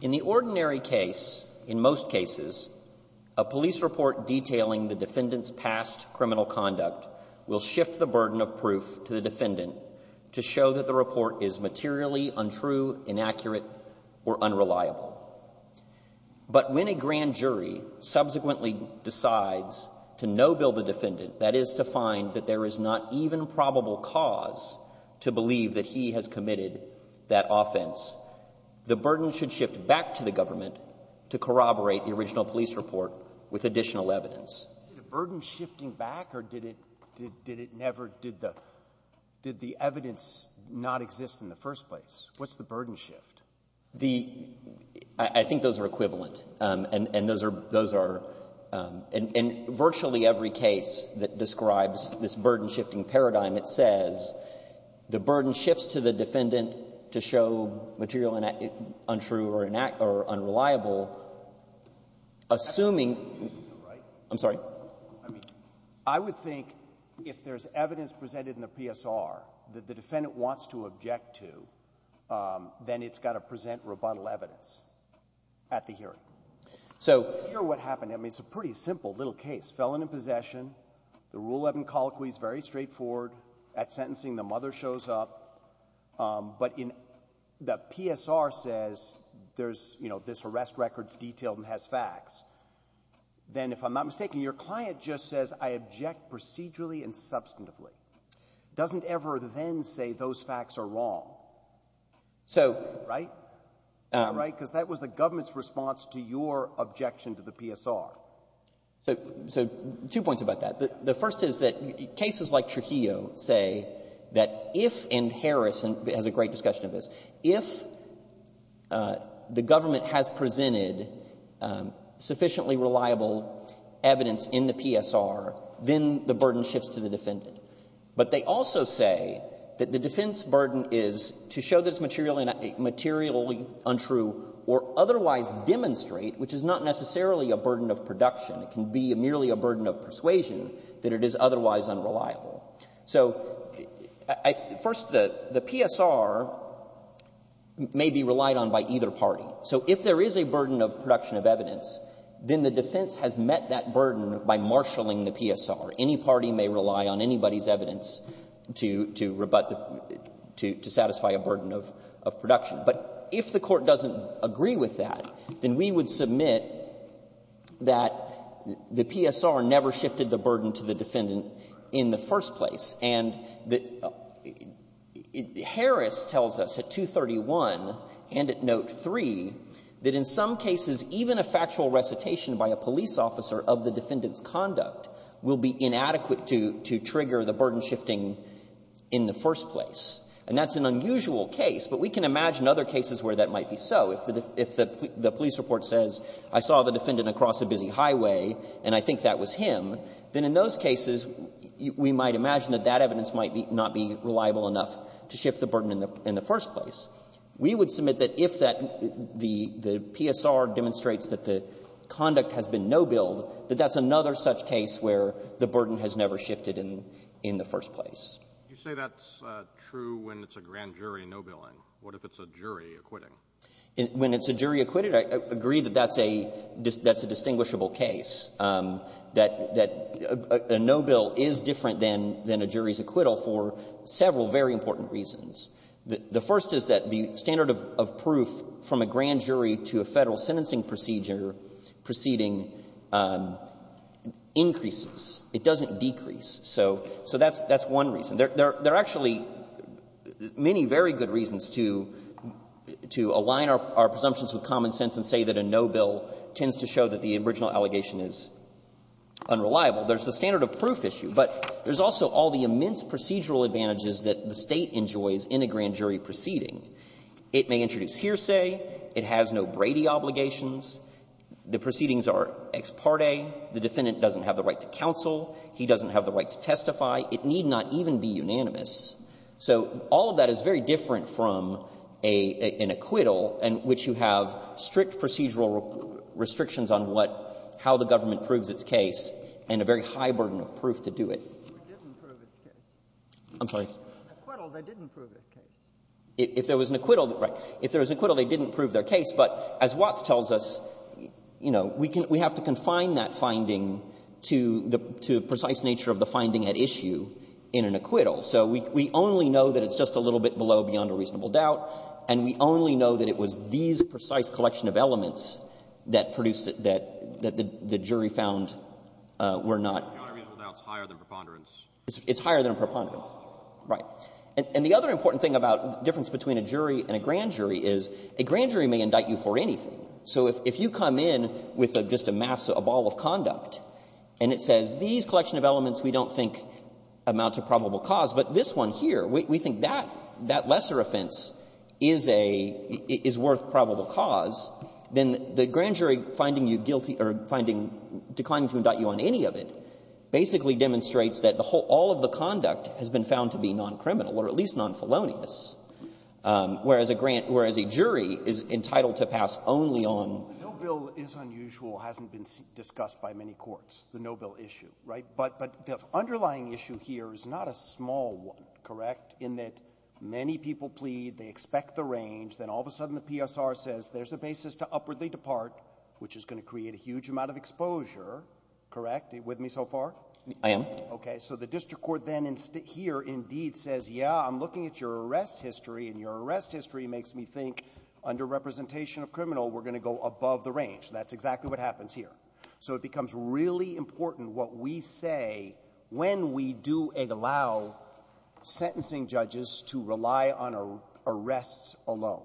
In the ordinary case, in most cases, a police report detailing the defendant's past criminal conduct will shift the burden of proof to the defendant to show that the report is materially untrue, inaccurate, or unreliable. But when a grand jury subsequently decides to no-bill the defendant, that is, to find that there is not even probable cause to believe that he has committed that offense, the burden should shift back to the government to corroborate the original police report with additional evidence. Breyer, is the burden shifting back, or did it never, did the evidence not exist in the first place? What's the burden shift? I think those are equivalent. And those are — in virtually every case that describes this burden-shifting paradigm, it says the burden shifts to the defendant to show material untrue or unreliable, assuming — I'm sorry. I mean, I would think if there's evidence presented in the PSR that the defendant wants to object to, then it's got to present rebuttal evidence at the hearing. So here's what happened. I mean, it's a pretty simple little case. Felon in possession. The Rule 11 colloquy is very straightforward. At sentencing, the mother shows up. But in — the PSR says there's, you know, this arrest record's detailed and has facts. Then, if I'm not mistaken, your client just says, I object procedurally and substantively. It doesn't ever then say those facts are wrong. So — Right? Right? Because that was the government's response to your objection to the PSR. So — so two points about that. The first is that cases like Trujillo say that if — and Harris has a great discussion of this — if the government has presented sufficiently reliable evidence in the PSR, then the burden shifts to the defendant. But they also say that the defense burden is to show that it's materially untrue or otherwise demonstrate, which is not necessarily a burden of production. It can be merely a burden of persuasion that it is otherwise unreliable. So I — first, the PSR may be relied on by either party. So if there is a burden of production of evidence, then the defense has met that burden by marshalling the PSR. Any party may rely on anybody's evidence to — to satisfy a burden of production. But if the Court doesn't agree with that, then we would submit that the PSR never shifted the burden to the defendant in the first place, and that Harris tells us at 231 and at Note 3 that in some cases, even a factual recitation by a police officer of the defendant's conduct will be inadequate to — to trigger the burden shifting in the first place. And that's an unusual case, but we can imagine other cases where that might be so. If the — if the police report says, I saw the defendant across a busy highway and I think that was him, then in those cases, we might imagine that that evidence might be — not be reliable enough to shift the burden in the — in the first place. We would submit that if that — the PSR demonstrates that the conduct has been no-billed, that that's another such case where the burden has never shifted in — in the first place. You say that's true when it's a grand jury no-billing. What if it's a jury acquitting? When it's a jury acquitted, I agree that that's a — that's a distinguishable case, that — that a no-bill is different than — than a jury's acquittal for several very important reasons. The first is that the standard of proof from a grand jury to a Federal sentencing procedure proceeding increases. It doesn't decrease. So — so that's — that's one reason. There — there are actually many very good reasons to — to align our — our presumptions with common sense and say that a no-bill tends to show that the original allegation is unreliable. There's the standard of proof issue, but there's also all the immense procedural advantages that the State enjoys in a grand jury proceeding. It may introduce hearsay. It has no Brady obligations. The proceedings are ex parte. The defendant doesn't have the right to counsel. He doesn't have the right to testify. It need not even be unanimous. So all of that is very different from a — an acquittal in which you have strict procedural restrictions on what — how the government proves its case and a very high burden of proof to do it. Ginsburg. It didn't prove its case. I'm sorry? Acquittal, they didn't prove its case. If there was an acquittal — right. If there was an acquittal, they didn't prove their case. But as Watts tells us, you know, we can — we have to confine that finding to the precise nature of the finding at issue in an acquittal. So we only know that it's just a little bit below beyond a reasonable doubt, and we only know that it was these precise collection of elements that produced it that the jury found were not — The honor reasonable doubt is higher than preponderance. It's higher than preponderance, right. And the other important thing about difference between a jury and a grand jury is a grand jury is not going to indict you for anything. So if you come in with just a mass — a ball of conduct and it says, these collection of elements we don't think amount to probable cause, but this one here, we think that — that lesser offense is a — is worth probable cause, then the grand jury finding you guilty — or finding — declining to indict you on any of it basically demonstrates that the whole — all of the conduct has been found to be non-criminal or at least non-Felonious, whereas a grant — whereas a jury is entitled to find the evidence to pass only on — No bill is unusual, hasn't been discussed by many courts, the no bill issue, right? But — but the underlying issue here is not a small one, correct, in that many people plead, they expect the range, then all of a sudden the PSR says there's a basis to upwardly depart, which is going to create a huge amount of exposure, correct? Are you with me so far? I am. Okay. So the district court then in — here indeed says, yeah, I'm looking at your arrest history, and your arrest history makes me think under representation of criminal, we're going to go above the range. That's exactly what happens here. So it becomes really important what we say when we do allow sentencing judges to rely on arrests alone.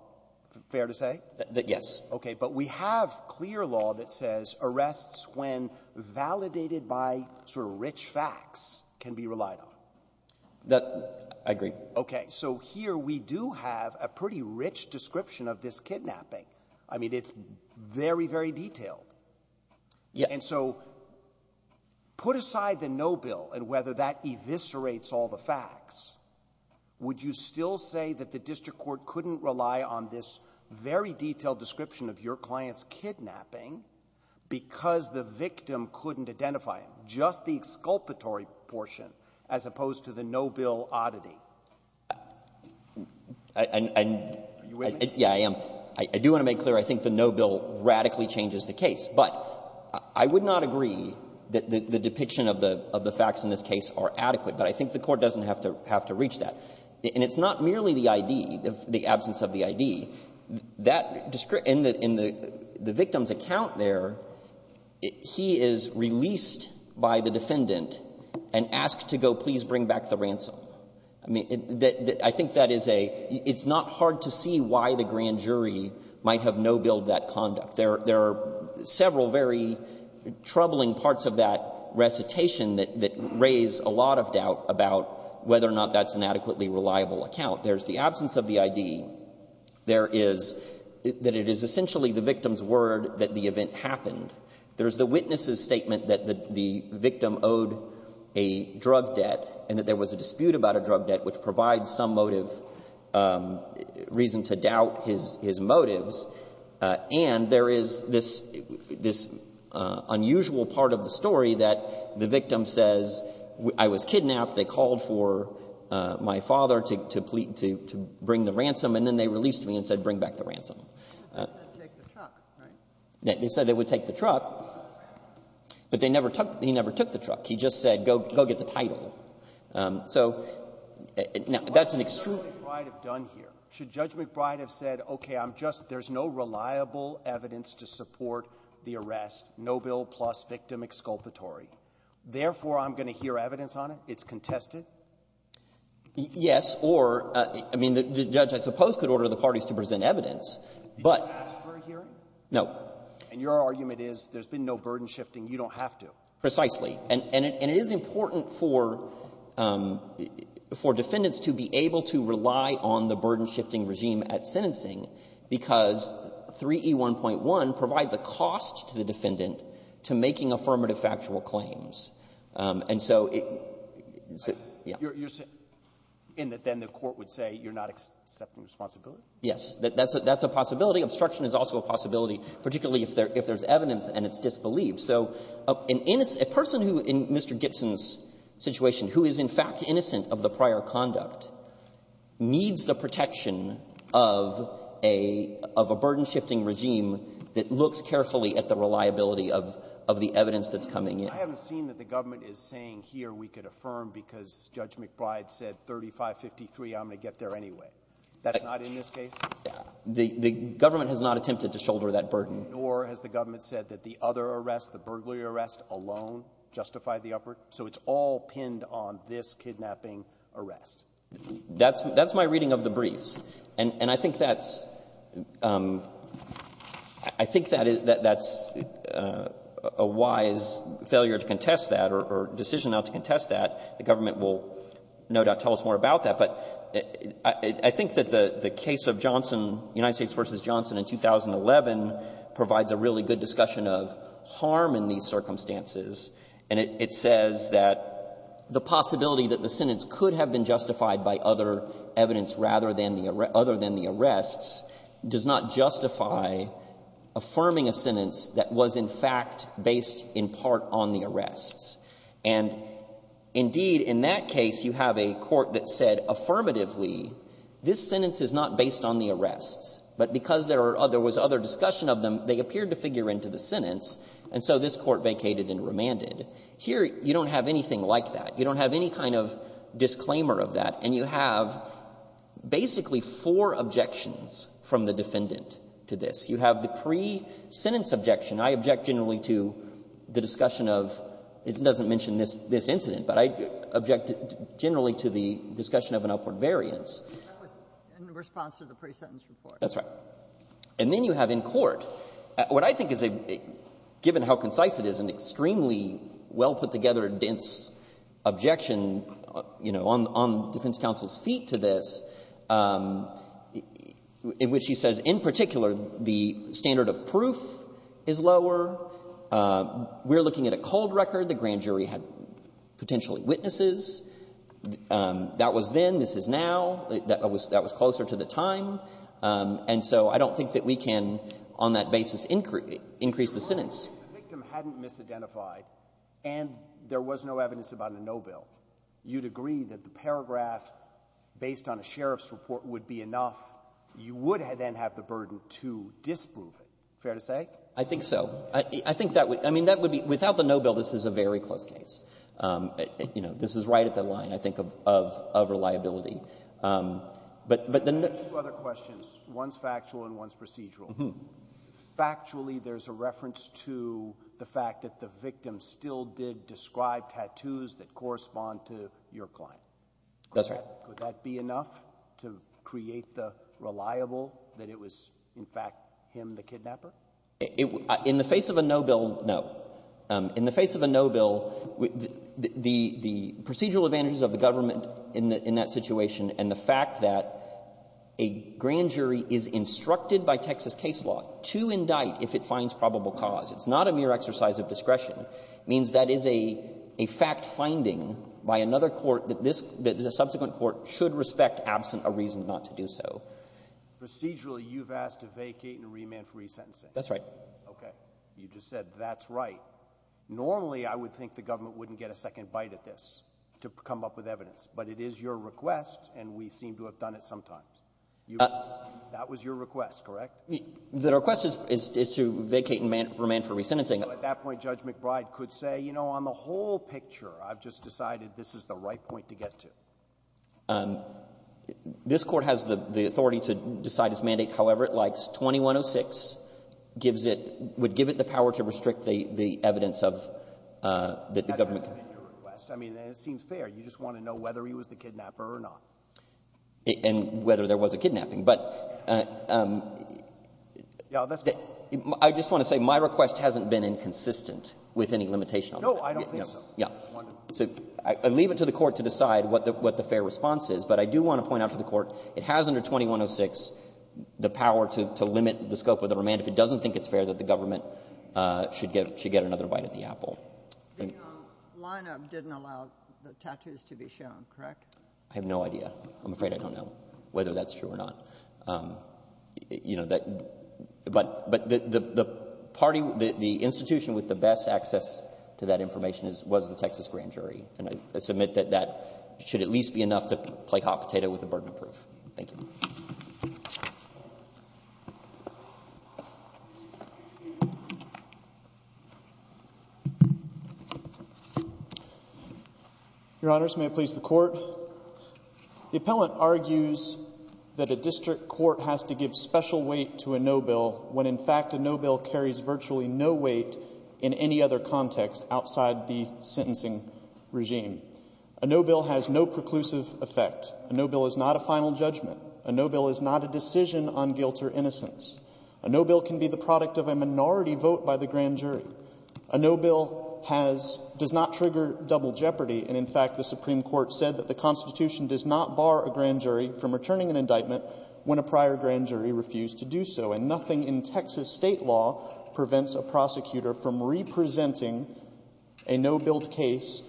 Fair to say? Yes. Okay. But we have clear law that says arrests, when validated by sort of rich facts, can be relied on. That — I agree. Okay. So here we do have a pretty rich description of this kidnapping. I mean, it's very, very detailed. Yeah. And so put aside the no bill and whether that eviscerates all the facts, would you still say that the district court couldn't rely on this very detailed description of your client's kidnapping because the victim couldn't identify him, just the exculpatory portion, as opposed to the no bill oddity? Are you in? Yeah, I am. I do want to make clear I think the no bill radically changes the case. But I would not agree that the depiction of the facts in this case are adequate, but I think the Court doesn't have to reach that. And it's not merely the ID, the absence of the ID. And ask to go please bring back the ransom. I mean, I think that is a — it's not hard to see why the grand jury might have no billed that conduct. There are several very troubling parts of that recitation that raise a lot of doubt about whether or not that's an adequately reliable account. There's the absence of the ID. There is — that it is essentially the victim's word that the event happened. There's the witness's statement that the victim owed a drug debt and that there was a dispute about a drug debt, which provides some motive — reason to doubt his motives. And there is this unusual part of the story that the victim says, I was kidnapped. They called for my father to bring the ransom. And then they released me and said, bring back the ransom. They said take the truck, right? They said they would take the truck, but they never took — he never took the truck. He just said, go get the title. So that's an extreme — Should Judge McBride have done here? Should Judge McBride have said, okay, I'm just — there's no reliable evidence to support the arrest, no bill plus victim exculpatory. Therefore, I'm going to hear evidence on it? It's contested? Yes, or — I mean, the judge, I suppose, could order the parties to present evidence, but — Did you ask for a hearing? No. And your argument is there's been no burden-shifting. You don't have to. Precisely. And it is important for defendants to be able to rely on the burden-shifting regime at sentencing because 3E1.1 provides a cost to the defendant to making affirmative factual claims. And so — You're saying — in that then the court would say you're not accepting responsibility? Yes. That's a possibility. Obstruction is also a possibility, particularly if there's evidence and it's disbelieved. So a person in Mr. Gibson's situation who is, in fact, innocent of the prior conduct needs the protection of a burden-shifting regime that looks carefully at the reliability of the evidence that's coming in. I haven't seen that the government is saying here we could affirm because Judge McBride said 3553, I'm going to get there anyway. That's not in this case? The government has not attempted to shoulder that burden. Nor has the government said that the other arrest, the burglary arrest alone justified the uproar? So it's all pinned on this kidnapping arrest? That's my reading of the briefs. And I think that's — I think that that's a wise failure to contest that or decision not to contest that. The government will no doubt tell us more about that. But I think that the case of Johnson — United States v. Johnson in 2011 provides a really good discussion of harm in these circumstances. And it says that the possibility that the sentence could have been justified by other evidence rather than the — other than the arrests does not justify affirming a sentence that was, in fact, based in part on the arrests. And indeed, in that case, you have a court that said affirmatively, this sentence is not based on the arrests, but because there are — there was other discussion of them, they appeared to figure into the sentence, and so this court vacated and remanded. Here, you don't have anything like that. You don't have any kind of disclaimer of that. And you have basically four objections from the defendant to this. You have the pre-sentence objection. I object generally to the discussion of — it doesn't mention this incident, but I object generally to the discussion of an upward variance. That was in response to the pre-sentence report. That's right. And then you have in court what I think is a — given how concise it is, an extremely well-put-together, dense objection, you know, on defense counsel's feet to this, in which he says, in particular, the standard of proof is lower. We're looking at a cold record. The grand jury had potentially witnesses. That was then. This is now. That was closer to the time. And so I don't think that we can, on that basis, increase the sentence. If the victim hadn't misidentified and there was no evidence about a no bill, you'd agree that the paragraph based on a sheriff's report would be enough. You would then have the burden to disprove it. Fair to say? I think so. I think that would — I mean, that would be — without the no bill, this is a very close case. You know, this is right at the line, I think, of — of — of reliability. But — but the — I have two other questions. One's factual and one's procedural. Mm-hmm. Factually, there's a reference to the fact that the victim still did describe tattoos that correspond to your client. That's right. Could that be enough to create the reliable that it was, in fact, him, the kidnapper? It — in the face of a no bill, no. In the face of a no bill, the procedural advantages of the government in that situation and the fact that a grand jury is instructed by Texas case law to indict if it finds probable cause, it's not a mere exercise of discretion. It means that is a — a fact-finding by another court that this — that the subsequent court should respect absent a reason not to do so. Procedurally, you've asked to vacate and remand for resentencing. That's right. Okay. You just said, that's right. Normally, I would think the government wouldn't get a second bite at this to come up with evidence. But it is your request, and we seem to have done it sometimes. You — that was your request, correct? The request is — is to vacate and remand for resentencing. So at that point, Judge McBride could say, you know, on the whole picture, I've just decided this is the right point to get to. This Court has the — the authority to decide its mandate however it likes. 2106 gives it — would give it the power to restrict the — the evidence of — that the government — That hasn't been your request. I mean, and it seems fair. You just want to know whether he was the kidnapper or not. And whether there was a kidnapping. But — Yeah, that's — I just want to say, my request hasn't been inconsistent with any limitation on that. No, I don't think so. Yeah. I just wanted to — So I leave it to the Court to decide what the — what the fair response is. But I do want to point out to the Court, it has under 2106 the power to — to limit the scope of the remand. If it doesn't think it's fair, then the government should get — should get another bite at the apple. But your lineup didn't allow the tattoos to be shown, correct? I have no idea. I'm afraid I don't know whether that's true or not. You know, that — but — but the party — the institution with the best access to that information is — was the Texas grand jury. And I submit that that should at least be enough to play hot potato with the burden of proof. Thank you. Your Honors, may it please the Court. The appellant argues that a district court has to give special weight to a no-bill when, in fact, a no-bill carries virtually no weight in any other context outside the sentencing regime. A no-bill has no preclusive effect. A no-bill is not a final judgment. A no-bill is not a decision on guilt or innocence. A no-bill can be the product of a minority vote by the grand jury. A no-bill has — does not trigger double jeopardy. And, in fact, the Supreme Court said that the Constitution does not bar a grand jury from returning an indictment when a prior grand jury refused to do so. And nothing in Texas state law prevents a prosecutor from re-presenting a no-billed case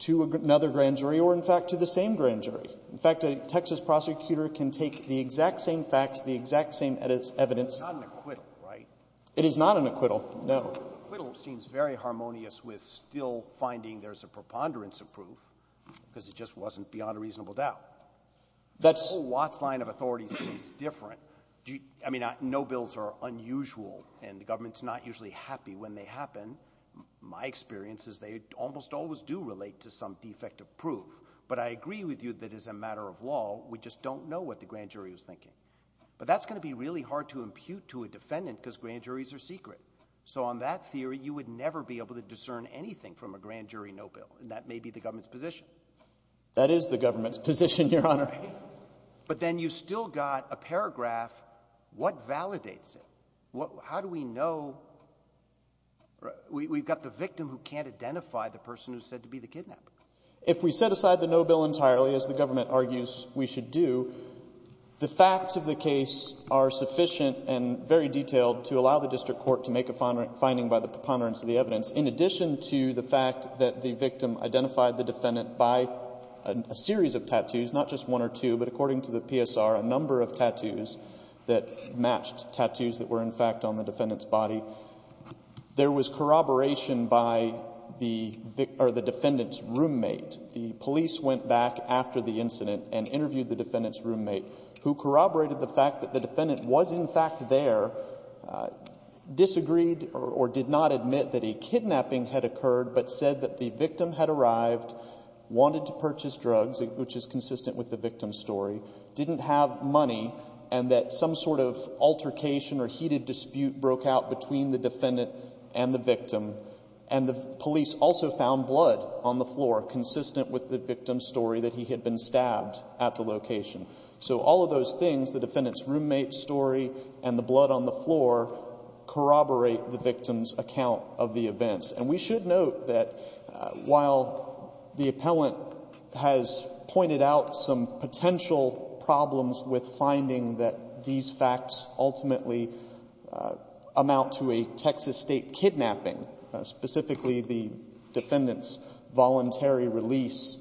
to another grand jury or, in fact, to the same grand jury. In fact, a Texas prosecutor can take the exact same facts, the exact same evidence — It's not an acquittal, right? It is not an acquittal, no. Acquittal seems very harmonious with still finding there's a preponderance of proof because it just wasn't beyond a reasonable doubt. That whole Watts line of authority seems different. I mean, no-bills are unusual, and the government's not usually happy when they happen. My experience is they almost always do relate to some defective proof. But I agree with you that, as a matter of law, we just don't know what the grand jury was thinking. But that's going to be really hard to impute to a defendant because grand juries are secret. So on that theory, you would never be able to discern anything from a grand jury no-bill, and that may be the government's position. That is the government's position, Your Honor. But then you've still got a paragraph. What validates it? How do we know? We've got the victim who can't identify the person who's said to be the kidnapper. If we set aside the no-bill entirely, as the government argues we should do, the facts of the case are sufficient and very detailed to allow the district court to make a finding by the preponderance of the evidence, in addition to the fact that the victim identified the defendant by a series of tattoos, not just one or two, but, according to the PSR, a number of tattoos that matched tattoos that were, in fact, on the defendant's body. There was corroboration by the defendant's roommate. The police went back after the incident and interviewed the defendant's roommate, who corroborated the fact that the defendant was, in fact, there, disagreed or did not admit that a kidnapping had occurred, but said that the victim had arrived, wanted to purchase drugs, which is consistent with the victim's story, didn't have money, and that some sort of altercation or heated dispute broke out between the defendant and the victim. And the police also found blood on the floor consistent with the victim's story that he had been stabbed at the location. So all of those things, the defendant's roommate's story and the blood on the floor, corroborate the victim's account of the events. And we should note that while the appellant has pointed out some potential problems with finding that these facts ultimately amount to a Texas state kidnapping, specifically the defendant's voluntary release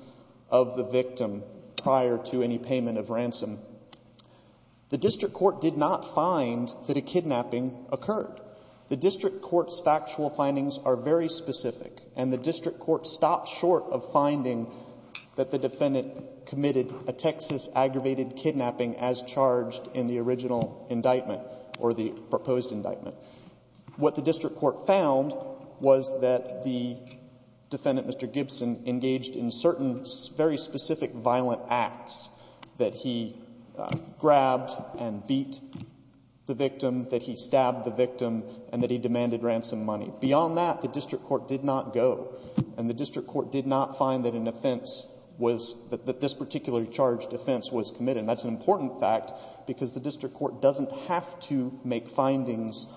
of the victim prior to any payment of ransom, the district court did not find that a kidnapping occurred. The district court's factual findings are very specific, and the district court stopped short of finding that the defendant committed a Texas aggravated kidnapping as charged in the original indictment or the proposed indictment. What the district court found was that the defendant, Mr. Gibson, engaged in certain very specific violent acts, that he grabbed and beat the victim, that he stabbed the victim, and that he demanded ransom money. Beyond that, the district court did not go. And the district court did not find that an offense was — that this particularly charged offense was committed. That's an important fact because the district court doesn't have to make findings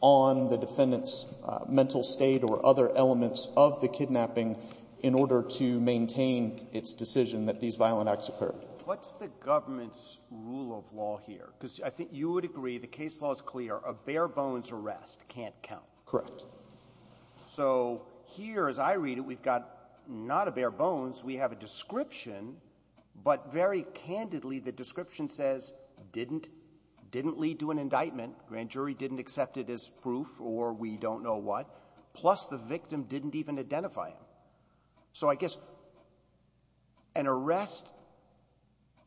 on the defendant's mental state or other elements of the kidnapping in order to maintain its decision that these violent acts occurred. Roberts. What's the government's rule of law here? Because I think you would agree the case law is clear. A bare-bones arrest can't count. Correct. So here, as I read it, we've got not a bare-bones. We have a description, but very candidly, the description says didn't. Didn't lead to an indictment. Grand jury didn't accept it as proof or we don't know what. Plus, the victim didn't even identify him. So I guess an arrest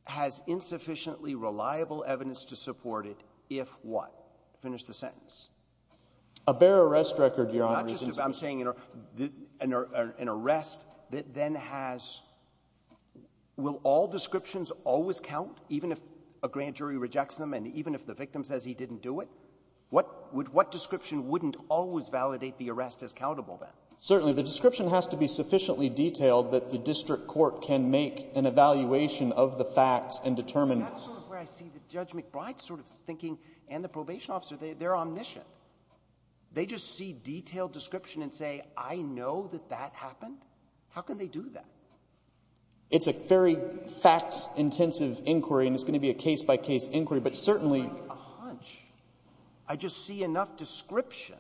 has insufficiently reliable evidence to support it if what? Finish the sentence. A bare arrest record, Your Honor. Not just — I'm saying an arrest that then has — will all descriptions always count even if a grand jury rejects them and even if the victim says he didn't do it? What description wouldn't always validate the arrest as countable, then? Certainly. The description has to be sufficiently detailed that the district court can make an evaluation of the facts and determine — So that's sort of where I see the Judge McBride sort of thinking and the probation officer, they're omniscient. They just see detailed description and say, I know that that happened. How can they do that? It's a very fact-intensive inquiry and it's going to be a case-by-case inquiry, but certainly — It's like a hunch. I just see enough description.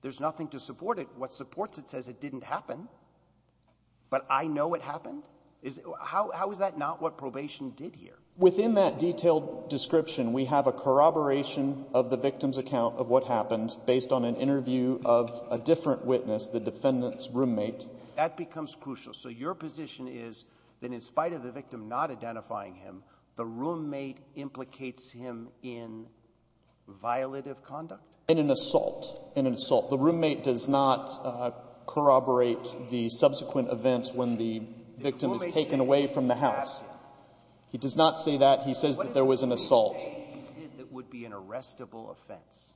There's nothing to support it. What supports it says it didn't happen, but I know it happened. How is that not what probation did here? Within that detailed description, we have a corroboration of the victim's account of what happened based on an interview of a different witness, the defendant's roommate. That becomes crucial. So your position is that in spite of the victim not identifying him, the roommate implicates him in violative conduct? In an assault. In an assault. The roommate does not corroborate the subsequent events when the victim is taken away from the house. He does not say that. He says that there was an assault. What did he say he did that would be an arrestable offense?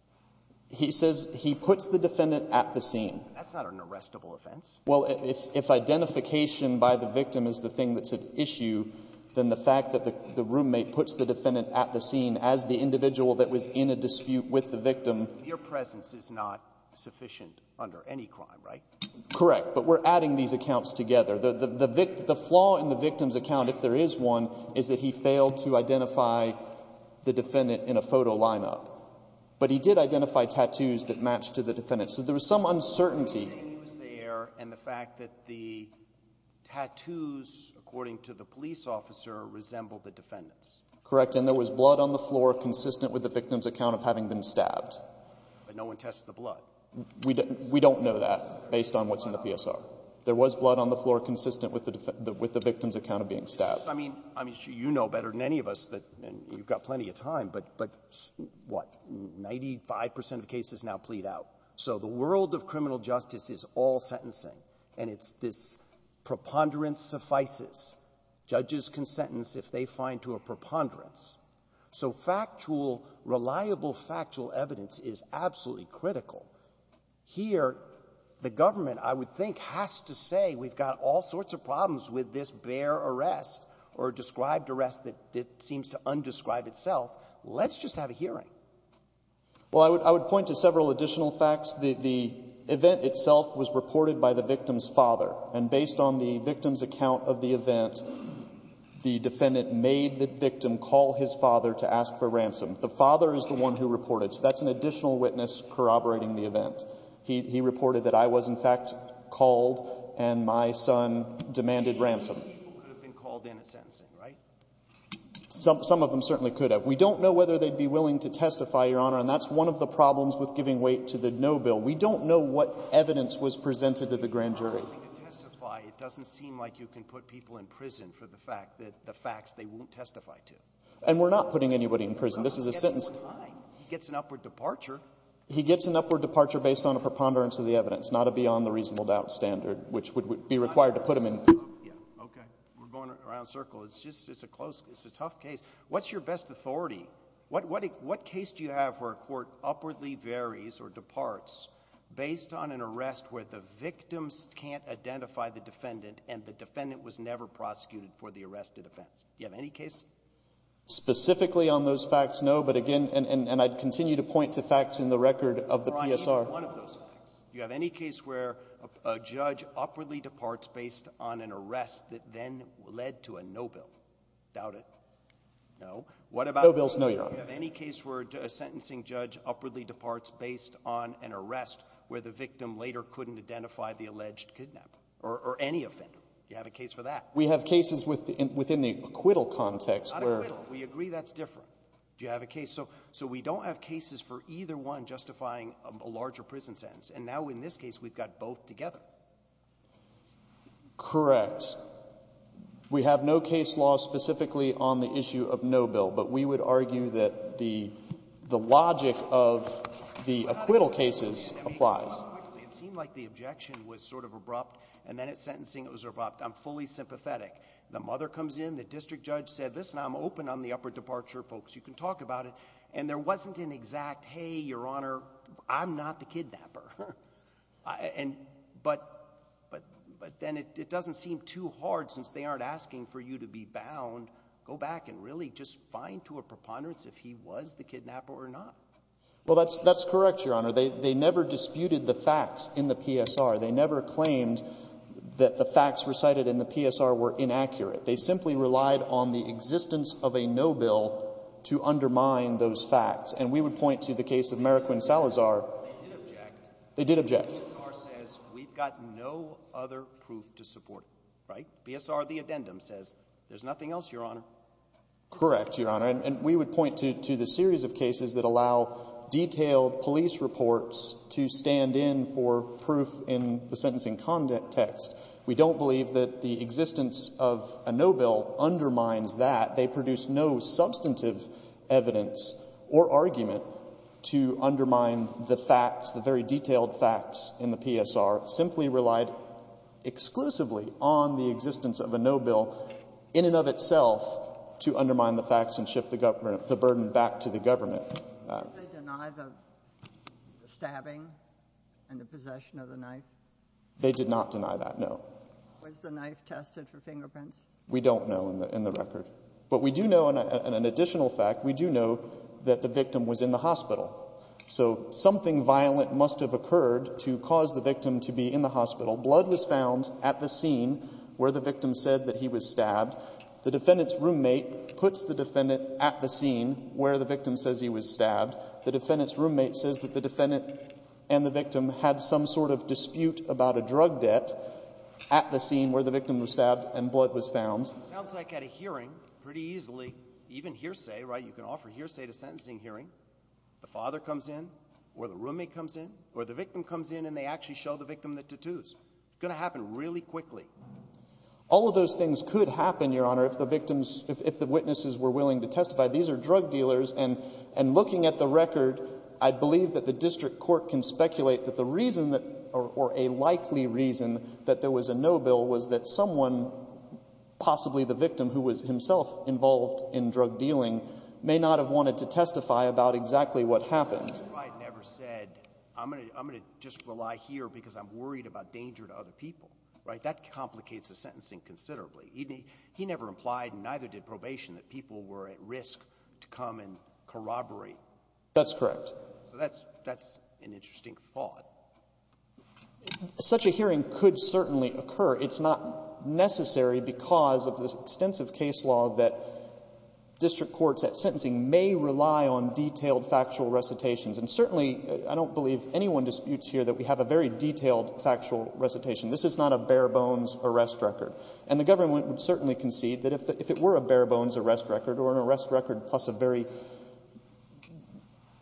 He says he puts the defendant at the scene. That's not an arrestable offense. Well, if identification by the victim is the thing that's at issue, then the fact that the roommate puts the defendant at the scene as the individual that was in a dispute with the victim — Your presence is not sufficient under any crime, right? Correct. But we're adding these accounts together. The flaw in the victim's account, if there is one, is that he failed to identify the defendant in a photo lineup. But he did identify tattoos that matched to the defendant. So there was some uncertainty. There were tattoos there and the fact that the tattoos, according to the police officer, resembled the defendant's. Correct. And there was blood on the floor consistent with the victim's account of having been stabbed. But no one tests the blood. We don't know that based on what's in the PSR. There was blood on the floor consistent with the victim's account of being stabbed. I mean, you know better than any of us that — and you've got plenty of time — but what, 95 percent of cases now plead out. So the world of criminal justice is all sentencing. And it's this preponderance suffices. Judges can sentence if they find to a preponderance. So factual, reliable factual evidence is absolutely critical. Here, the government, I would think, has to say we've got all sorts of problems with this bare arrest or described arrest that seems to undescribe itself. Let's just have a hearing. Well, I would point to several additional facts. The event itself was reported by the victim's father. And based on the victim's account of the event, the defendant made the victim call his father to ask for ransom. The father is the one who reported. So that's an additional witness corroborating the event. He reported that I was, in fact, called, and my son demanded ransom. Some people could have been called in at sentencing, right? Some of them certainly could have. We don't know whether they'd be willing to testify, Your Honor. And that's one of the problems with giving weight to the no bill. We don't know what evidence was presented to the grand jury. If you're not willing to testify, it doesn't seem like you can put people in prison for the fact that — the facts they won't testify to. And we're not putting anybody in prison. This is a sentence — He gets an upward departure based on a preponderance of the evidence, not a beyond-the-reasonable-doubt standard, which would be required to put him in — Yeah, okay. We're going around a circle. It's just — it's a close — it's a tough case. What's your best authority? What case do you have where a court upwardly varies or departs based on an arrest where the victims can't identify the defendant and the defendant was never prosecuted for the arrested offense? Do you have any case? Specifically on those facts, no. But again — and I'd continue to point to facts in the record of the PSR. Do you have any case where a judge upwardly departs based on an arrest that then led to a no bill? Doubt it? No. What about — No bills, no your honor. Do you have any case where a sentencing judge upwardly departs based on an arrest where the victim later couldn't identify the alleged kidnap or any offender? Do you have a case for that? We have cases within the acquittal context where — Not acquittal. We agree that's different. Do you have a case? So we don't have cases for either one justifying a larger prison sentence. And now in this case, we've got both together. Correct. We have no case law specifically on the issue of no bill. But we would argue that the logic of the acquittal cases applies. It seemed like the objection was sort of abrupt. And then at sentencing it was abrupt. I'm fully sympathetic. The mother comes in. The district judge said, listen, I'm open on the upward departure. You can talk about it. And there wasn't an exact, hey, your honor, I'm not the kidnapper. But then it doesn't seem too hard since they aren't asking for you to be bound. Go back and really just find to a preponderance if he was the kidnapper or not. Well, that's correct, your honor. They never disputed the facts in the PSR. They never claimed that the facts recited in the PSR were inaccurate. They simply relied on the existence of a no bill to undermine those facts. And we would point to the case of Meriquin Salazar. They did object. PSR says we've got no other proof to support it, right? PSR, the addendum says there's nothing else, your honor. Correct, your honor. And we would point to the series of cases that allow detailed police reports to stand in for proof in the sentencing context. We don't believe that the existence of a no bill undermines that. They produce no substantive evidence or argument to undermine the facts, the very detailed facts in the PSR simply relied exclusively on the existence of a no bill in and of itself to undermine the facts and shift the burden back to the government. Did they deny the stabbing and the possession of the knife? They did not deny that, no. Was the knife tested for fingerprints? We don't know in the record. But we do know, and an additional fact, we do know that the victim was in the hospital. So something violent must have occurred to cause the victim to be in the hospital. Blood was found at the scene where the victim said that he was stabbed. The defendant's roommate puts the defendant at the scene where the victim says he was stabbed. The defendant's roommate says that the defendant and the victim had some sort of dispute about a drug debt at the scene where the victim was stabbed and blood was found. It sounds like at a hearing, pretty easily, even hearsay, right? You can offer hearsay at a sentencing hearing. The father comes in, or the roommate comes in, or the victim comes in, and they actually show the victim the tattoos. It's going to happen really quickly. All of those things could happen, Your Honor, if the witnesses were willing to testify. These are drug dealers, and looking at the record, I believe that the district court can speculate that the reason, or a likely reason, that there was a no bill was that someone, possibly the victim who was himself involved in drug dealing, may not have wanted to testify about exactly what happened. Mr. Wright never said, I'm going to just rely here because I'm worried about danger to other people, right? That complicates the sentencing considerably. He never implied, and neither did probation, that people were at risk to come and corroborate. That's correct. So that's an interesting thought. Such a hearing could certainly occur. It's not necessary because of this extensive case law that district courts at sentencing may rely on detailed factual recitations. And certainly, I don't believe anyone disputes here that we have a very detailed factual recitation. This is not a bare bones arrest record. And the government would certainly concede that if it were a bare bones arrest record or an arrest record plus a very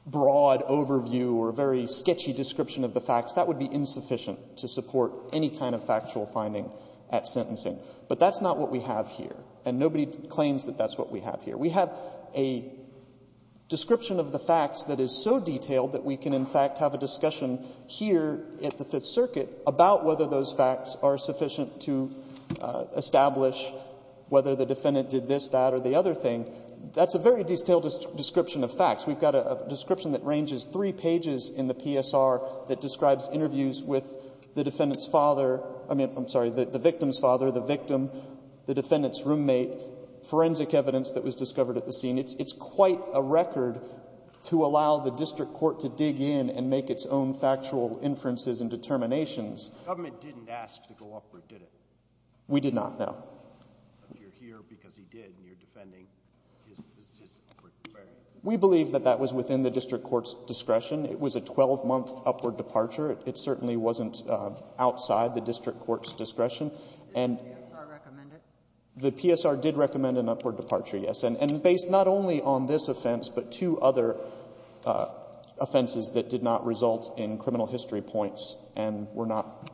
broad overview or a very sketchy description of the facts, that would be insufficient to support any kind of factual finding at sentencing. But that's not what we have here. And nobody claims that that's what we have here. We have a description of the facts that is so detailed that we can, in fact, have a discussion here at the Fifth Circuit about whether those facts are sufficient to establish whether the defendant did this, that, or the other thing. That's a very detailed description of facts. We've got a description that ranges three pages in the PSR that describes interviews with the defendant's father, I mean, I'm sorry, the victim's father, the victim, the defendant's roommate, forensic evidence that was discovered at the scene. It's quite a record to allow the district court to dig in and make its own factual inferences and determinations. The government didn't ask to go upward, did it? We did not, no. But you're here because he did, and you're defending his experience. We believe that that was within the district court's discretion. It was a 12-month upward departure. It certainly wasn't outside the district court's discretion. Did the PSR recommend it? The PSR did recommend an upward departure, yes. And based not only on this offense, but two other offenses that did not result in criminal history points and were not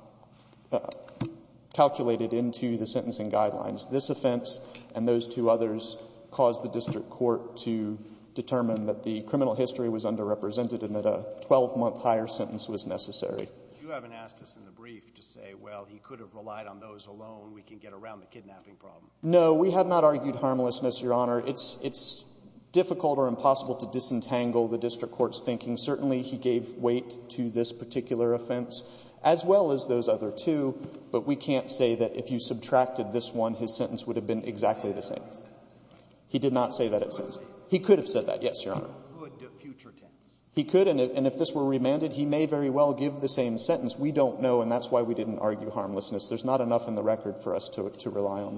calculated into the sentencing guidelines. This offense and those two others caused the district court to determine that the criminal history was underrepresented and that a 12-month higher sentence was necessary. If you haven't asked us in the brief to say, well, he could have relied on those alone, we can get around the kidnapping problem. No, we have not argued harmlessness, Your Honor. It's difficult or impossible to disentangle the district court's thinking. Certainly, he gave weight to this particular offense, as well as those other two. But we can't say that if you subtracted this one, his sentence would have been exactly the same. He did not say that at sentencing. He could have said that, yes, Your Honor. He could, and if this were remanded, he may very well give the same sentence. We don't know, and that's why we didn't argue harmlessness. There's not enough in the record for us to rely on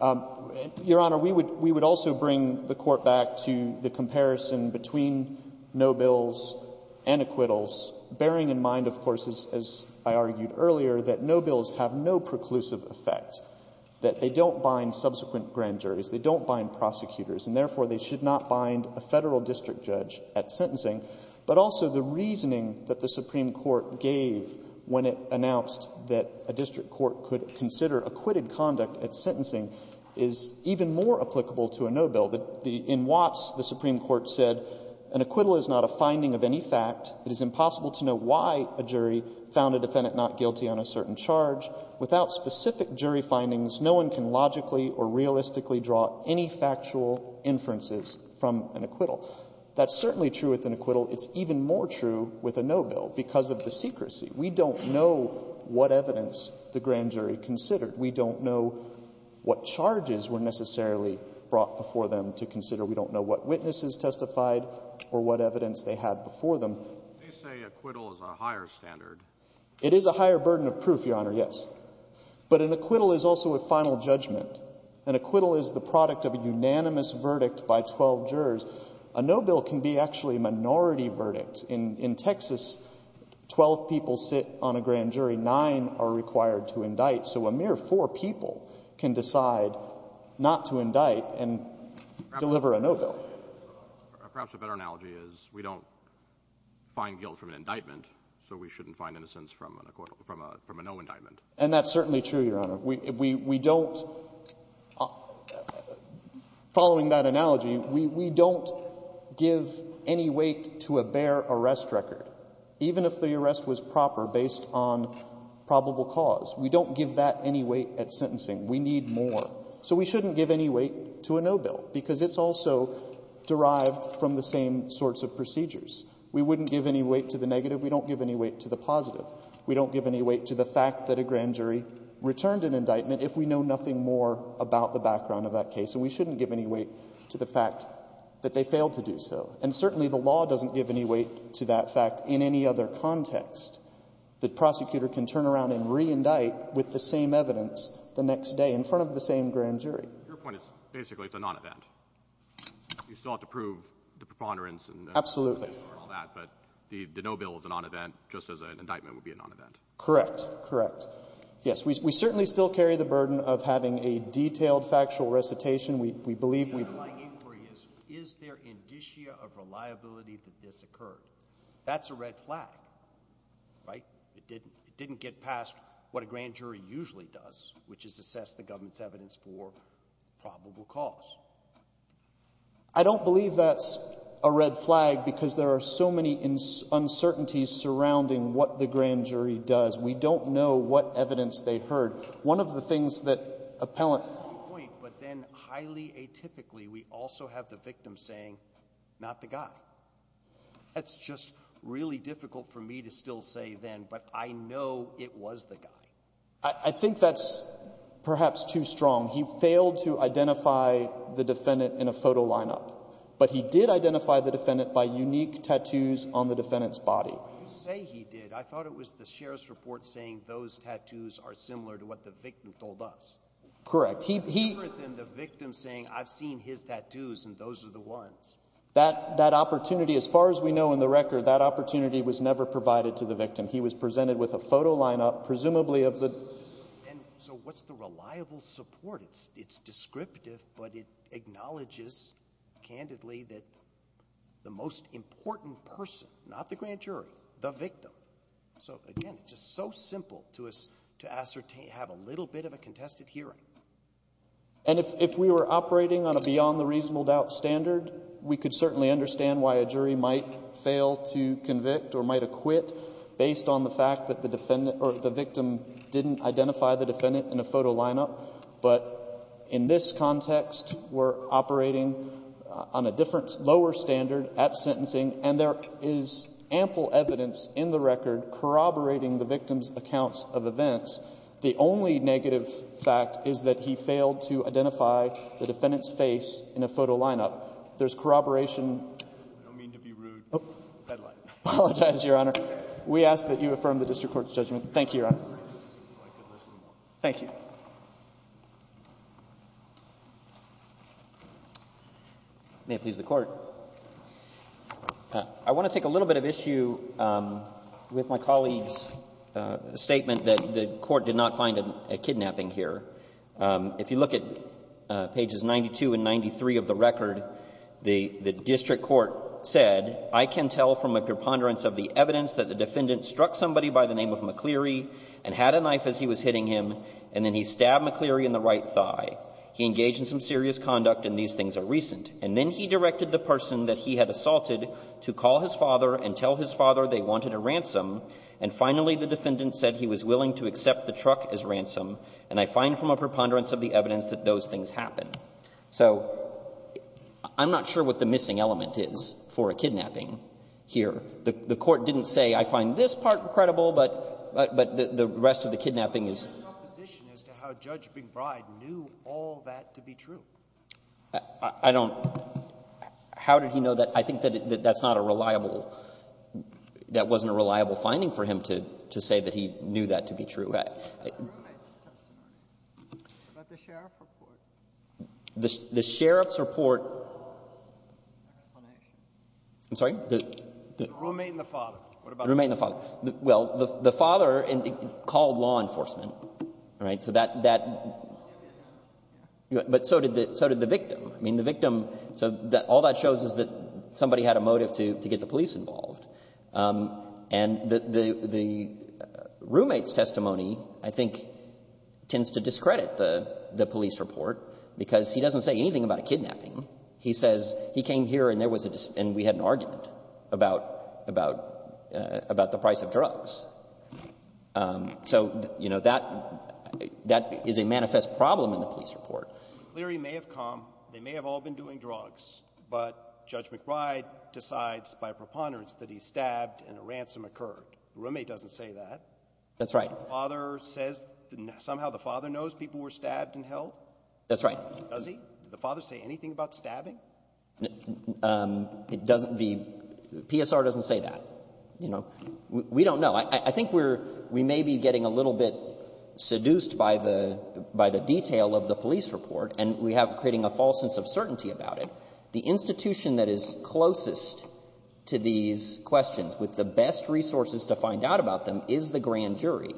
that. Your Honor, we would also bring the Court back to the comparison between no bills and acquittals, bearing in mind, of course, as I argued earlier, that no bills have no preclusive effect, that they don't bind subsequent grand juries, they don't bind prosecutors, and therefore, they should not bind a Federal district judge at sentencing. But also, the reasoning that the Supreme Court gave when it announced that a district court could consider acquitted conduct at sentencing is even more applicable to a no bill. In Watts, the Supreme Court said, an acquittal is not a finding of any fact. It is impossible to know why a jury found a defendant not guilty on a certain charge. Without specific jury findings, no one can logically or realistically draw any factual inferences from an acquittal. That's certainly true with an acquittal. It's even more true with a no bill because of the secrecy. We don't know what evidence the grand jury considered. We don't know what charges were necessarily brought before them to consider. We don't know what witnesses testified or what evidence they had before them. They say acquittal is a higher standard. It is a higher burden of proof, Your Honor, yes. But an acquittal is also a final judgment. An acquittal is the product of a unanimous verdict by 12 jurors. A no bill can be actually a minority verdict. In Texas, 12 people sit on a grand jury. Nine are required to indict. So a mere four people can decide not to indict and deliver a no bill. Perhaps a better analogy is we don't find guilt from an indictment, so we shouldn't find innocence from an acquittal, from a no indictment. And that's certainly true, Your Honor. We don't, following that analogy, we don't give any weight to a bare arrest record. Even if the arrest was proper based on probable cause, we don't give that any weight at sentencing. We need more. So we shouldn't give any weight to a no bill because it's also derived from the same sorts of procedures. We wouldn't give any weight to the negative. We don't give any weight to the positive. We don't give any weight to the fact that a grand jury returned an indictment if we know nothing more about the background of that case. And we shouldn't give any weight to the fact that they failed to do so. And certainly the law doesn't give any weight to that fact in any other context. The prosecutor can turn around and reindict with the same evidence the next day in front of the same grand jury. Your point is basically it's a non-event. You still have to prove the preponderance and the procedure and all that, but the no bill is a non-event just as an indictment would be a non-event. Correct. Correct. Yes, we certainly still carry the burden of having a detailed factual recitation. We believe we've... The underlying inquiry is, is there indicia of reliability that this occurred? That's a red flag, right? It didn't get past what a grand jury usually does, which is assess the government's evidence for probable cause. I don't believe that's a red flag because there are so many uncertainties surrounding what the grand jury does. We don't know what evidence they heard. One of the things that appellant... Point, but then highly atypically, we also have the victim saying, not the guy. That's just really difficult for me to still say then, but I know it was the guy. I think that's perhaps too strong. He failed to identify the defendant in a photo lineup, but he did identify the defendant by unique tattoos on the defendant's body. When you say he did, I thought it was the sheriff's report saying those tattoos are similar to what the victim told us. Correct. He... He... Different than the victim saying, I've seen his tattoos and those are the ones. That opportunity, as far as we know in the record, that opportunity was never provided to the victim. He was presented with a photo lineup, presumably of the... So what's the reliable support? It's descriptive, but it acknowledges candidly that the most important person, not the grand jury, the victim. So again, it's just so simple to ascertain, have a little bit of a contested hearing. And if we were operating on a beyond the reasonable doubt standard, we could certainly understand why a jury might fail to convict or might acquit based on the victim didn't identify the defendant in a photo lineup. But in this context, we're operating on a different, lower standard at sentencing, and there is ample evidence in the record corroborating the victim's accounts of events. The only negative fact is that he failed to identify the defendant's face in a photo lineup. There's corroboration... I don't mean to be rude. Oh. Headline. I apologize, Your Honor. We ask that you affirm the district court's judgment. Thank you, Your Honor. Thank you. May it please the Court. I want to take a little bit of issue with my colleague's statement that the court did not find a kidnapping here. If you look at pages 92 and 93 of the record, the district court said, I can tell from a preponderance of the evidence that the defendant struck somebody by the name of McCleary and had a knife as he was hitting him, and then he stabbed McCleary in the right thigh. He engaged in some serious conduct, and these things are recent. And then he directed the person that he had assaulted to call his father and tell his father they wanted a ransom, and finally the defendant said he was willing to accept the truck as ransom, and I find from a preponderance of the evidence that those things happen. So I'm not sure what the missing element is for a kidnapping here. The court didn't say, I find this part credible, but the rest of the kidnapping is— There's an opposition as to how Judge McBride knew all that to be true. I don't—how did he know that? I think that that's not a reliable—that wasn't a reliable finding for him to say that he knew that to be true. The roommate's testimony, about the sheriff's report. The sheriff's report— The explanation. I'm sorry? The roommate and the father. The roommate and the father. Well, the father called law enforcement, all right? So that— So did the victim. I mean, the victim—so all that shows is that somebody had a motive to get the police involved. And the roommate's testimony, I think, tends to discredit the police report because he doesn't say anything about a kidnapping. He says he came here and there was a—and we had an argument about the price of drugs. So, you know, that is a manifest problem in the police report. Cleary may have come. They may have all been doing drugs. But Judge McBride decides by preponderance that he's stabbed and a ransom occurred. The roommate doesn't say that. That's right. The father says—somehow the father knows people were stabbed and held? That's right. Does he? Did the father say anything about stabbing? It doesn't—the PSR doesn't say that, you know. We don't know. I think we're—we may be getting a little bit seduced by the detail of the police report and we have—creating a false sense of certainty about it. The institution that is closest to these questions with the best resources to find out about them is the grand jury.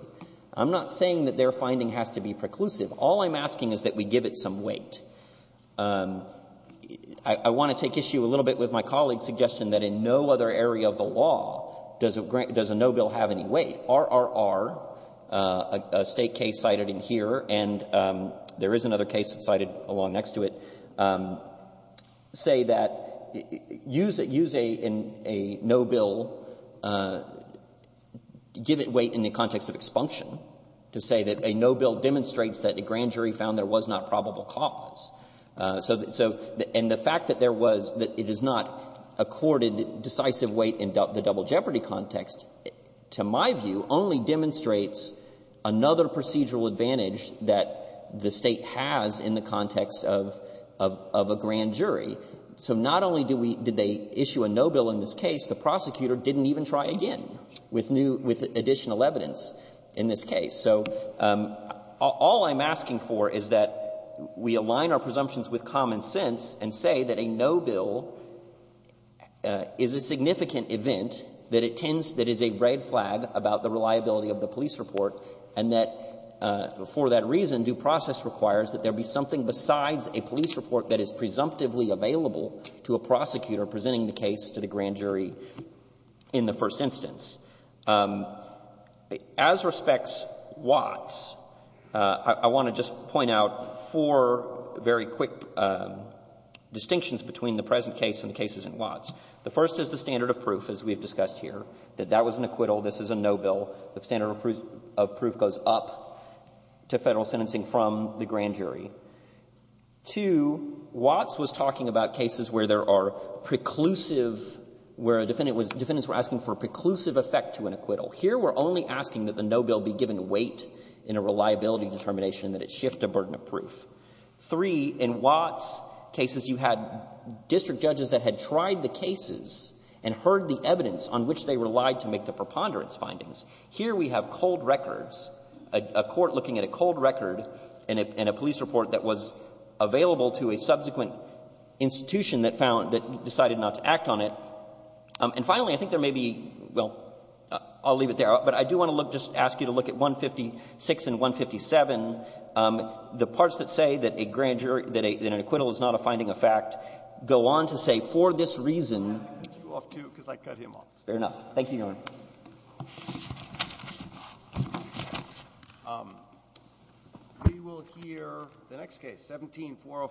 I'm not saying that their finding has to be preclusive. All I'm asking is that we give it some weight. I want to take issue a little bit with my colleague's suggestion that in no other area of the law does a no bill have any weight. RRR, a State case cited in here, and there is another case cited along next to it, say that—use a no bill, give it weight in the context of expunction to say that a no bill demonstrates that a grand jury found there was not probable cause. So—and the fact that there was—that it is not accorded decisive weight in the double jeopardy context, to my view, only demonstrates another procedural advantage that the State has in the context of a grand jury. So not only do we—did they issue a no bill in this case, the prosecutor didn't even try again with new—with additional evidence in this case. So all I'm asking for is that we align our presumptions with common sense and say that a no bill is a significant event that it tends—that is a red flag about the reliability of the police report and that for that reason due process requires that there be something besides a police report that is presumptively available to a prosecutor presenting the case to the grand jury in the first instance. As respects Watts, I want to just point out four very quick distinctions between the present case and the cases in Watts. The first is the standard of proof, as we have discussed here, that that was an acquittal, this is a no bill. The standard of proof goes up to Federal sentencing from the grand jury. Two, Watts was talking about cases where there are preclusive—where a defendant was—defendants were asking for a preclusive effect to an acquittal. Here, we're only asking that the no bill be given weight in a reliability determination that it shift a burden of proof. Three, in Watts cases you had district judges that had tried the cases and heard the evidence on which they relied to make the preponderance findings. Here we have cold records, a court looking at a cold record and a police report that was available to a subsequent institution that found—that decided not to act on it. And finally, I think there may be—well, I'll leave it there. But I do want to look—just ask you to look at 156 and 157. The parts that say that a grand jury—that an acquittal is not a finding of fact go on to say, for this reason— Breyer. I'm going to cut you off, too, because I cut him off. Fair enough. We will hear the next case, 17-405-2.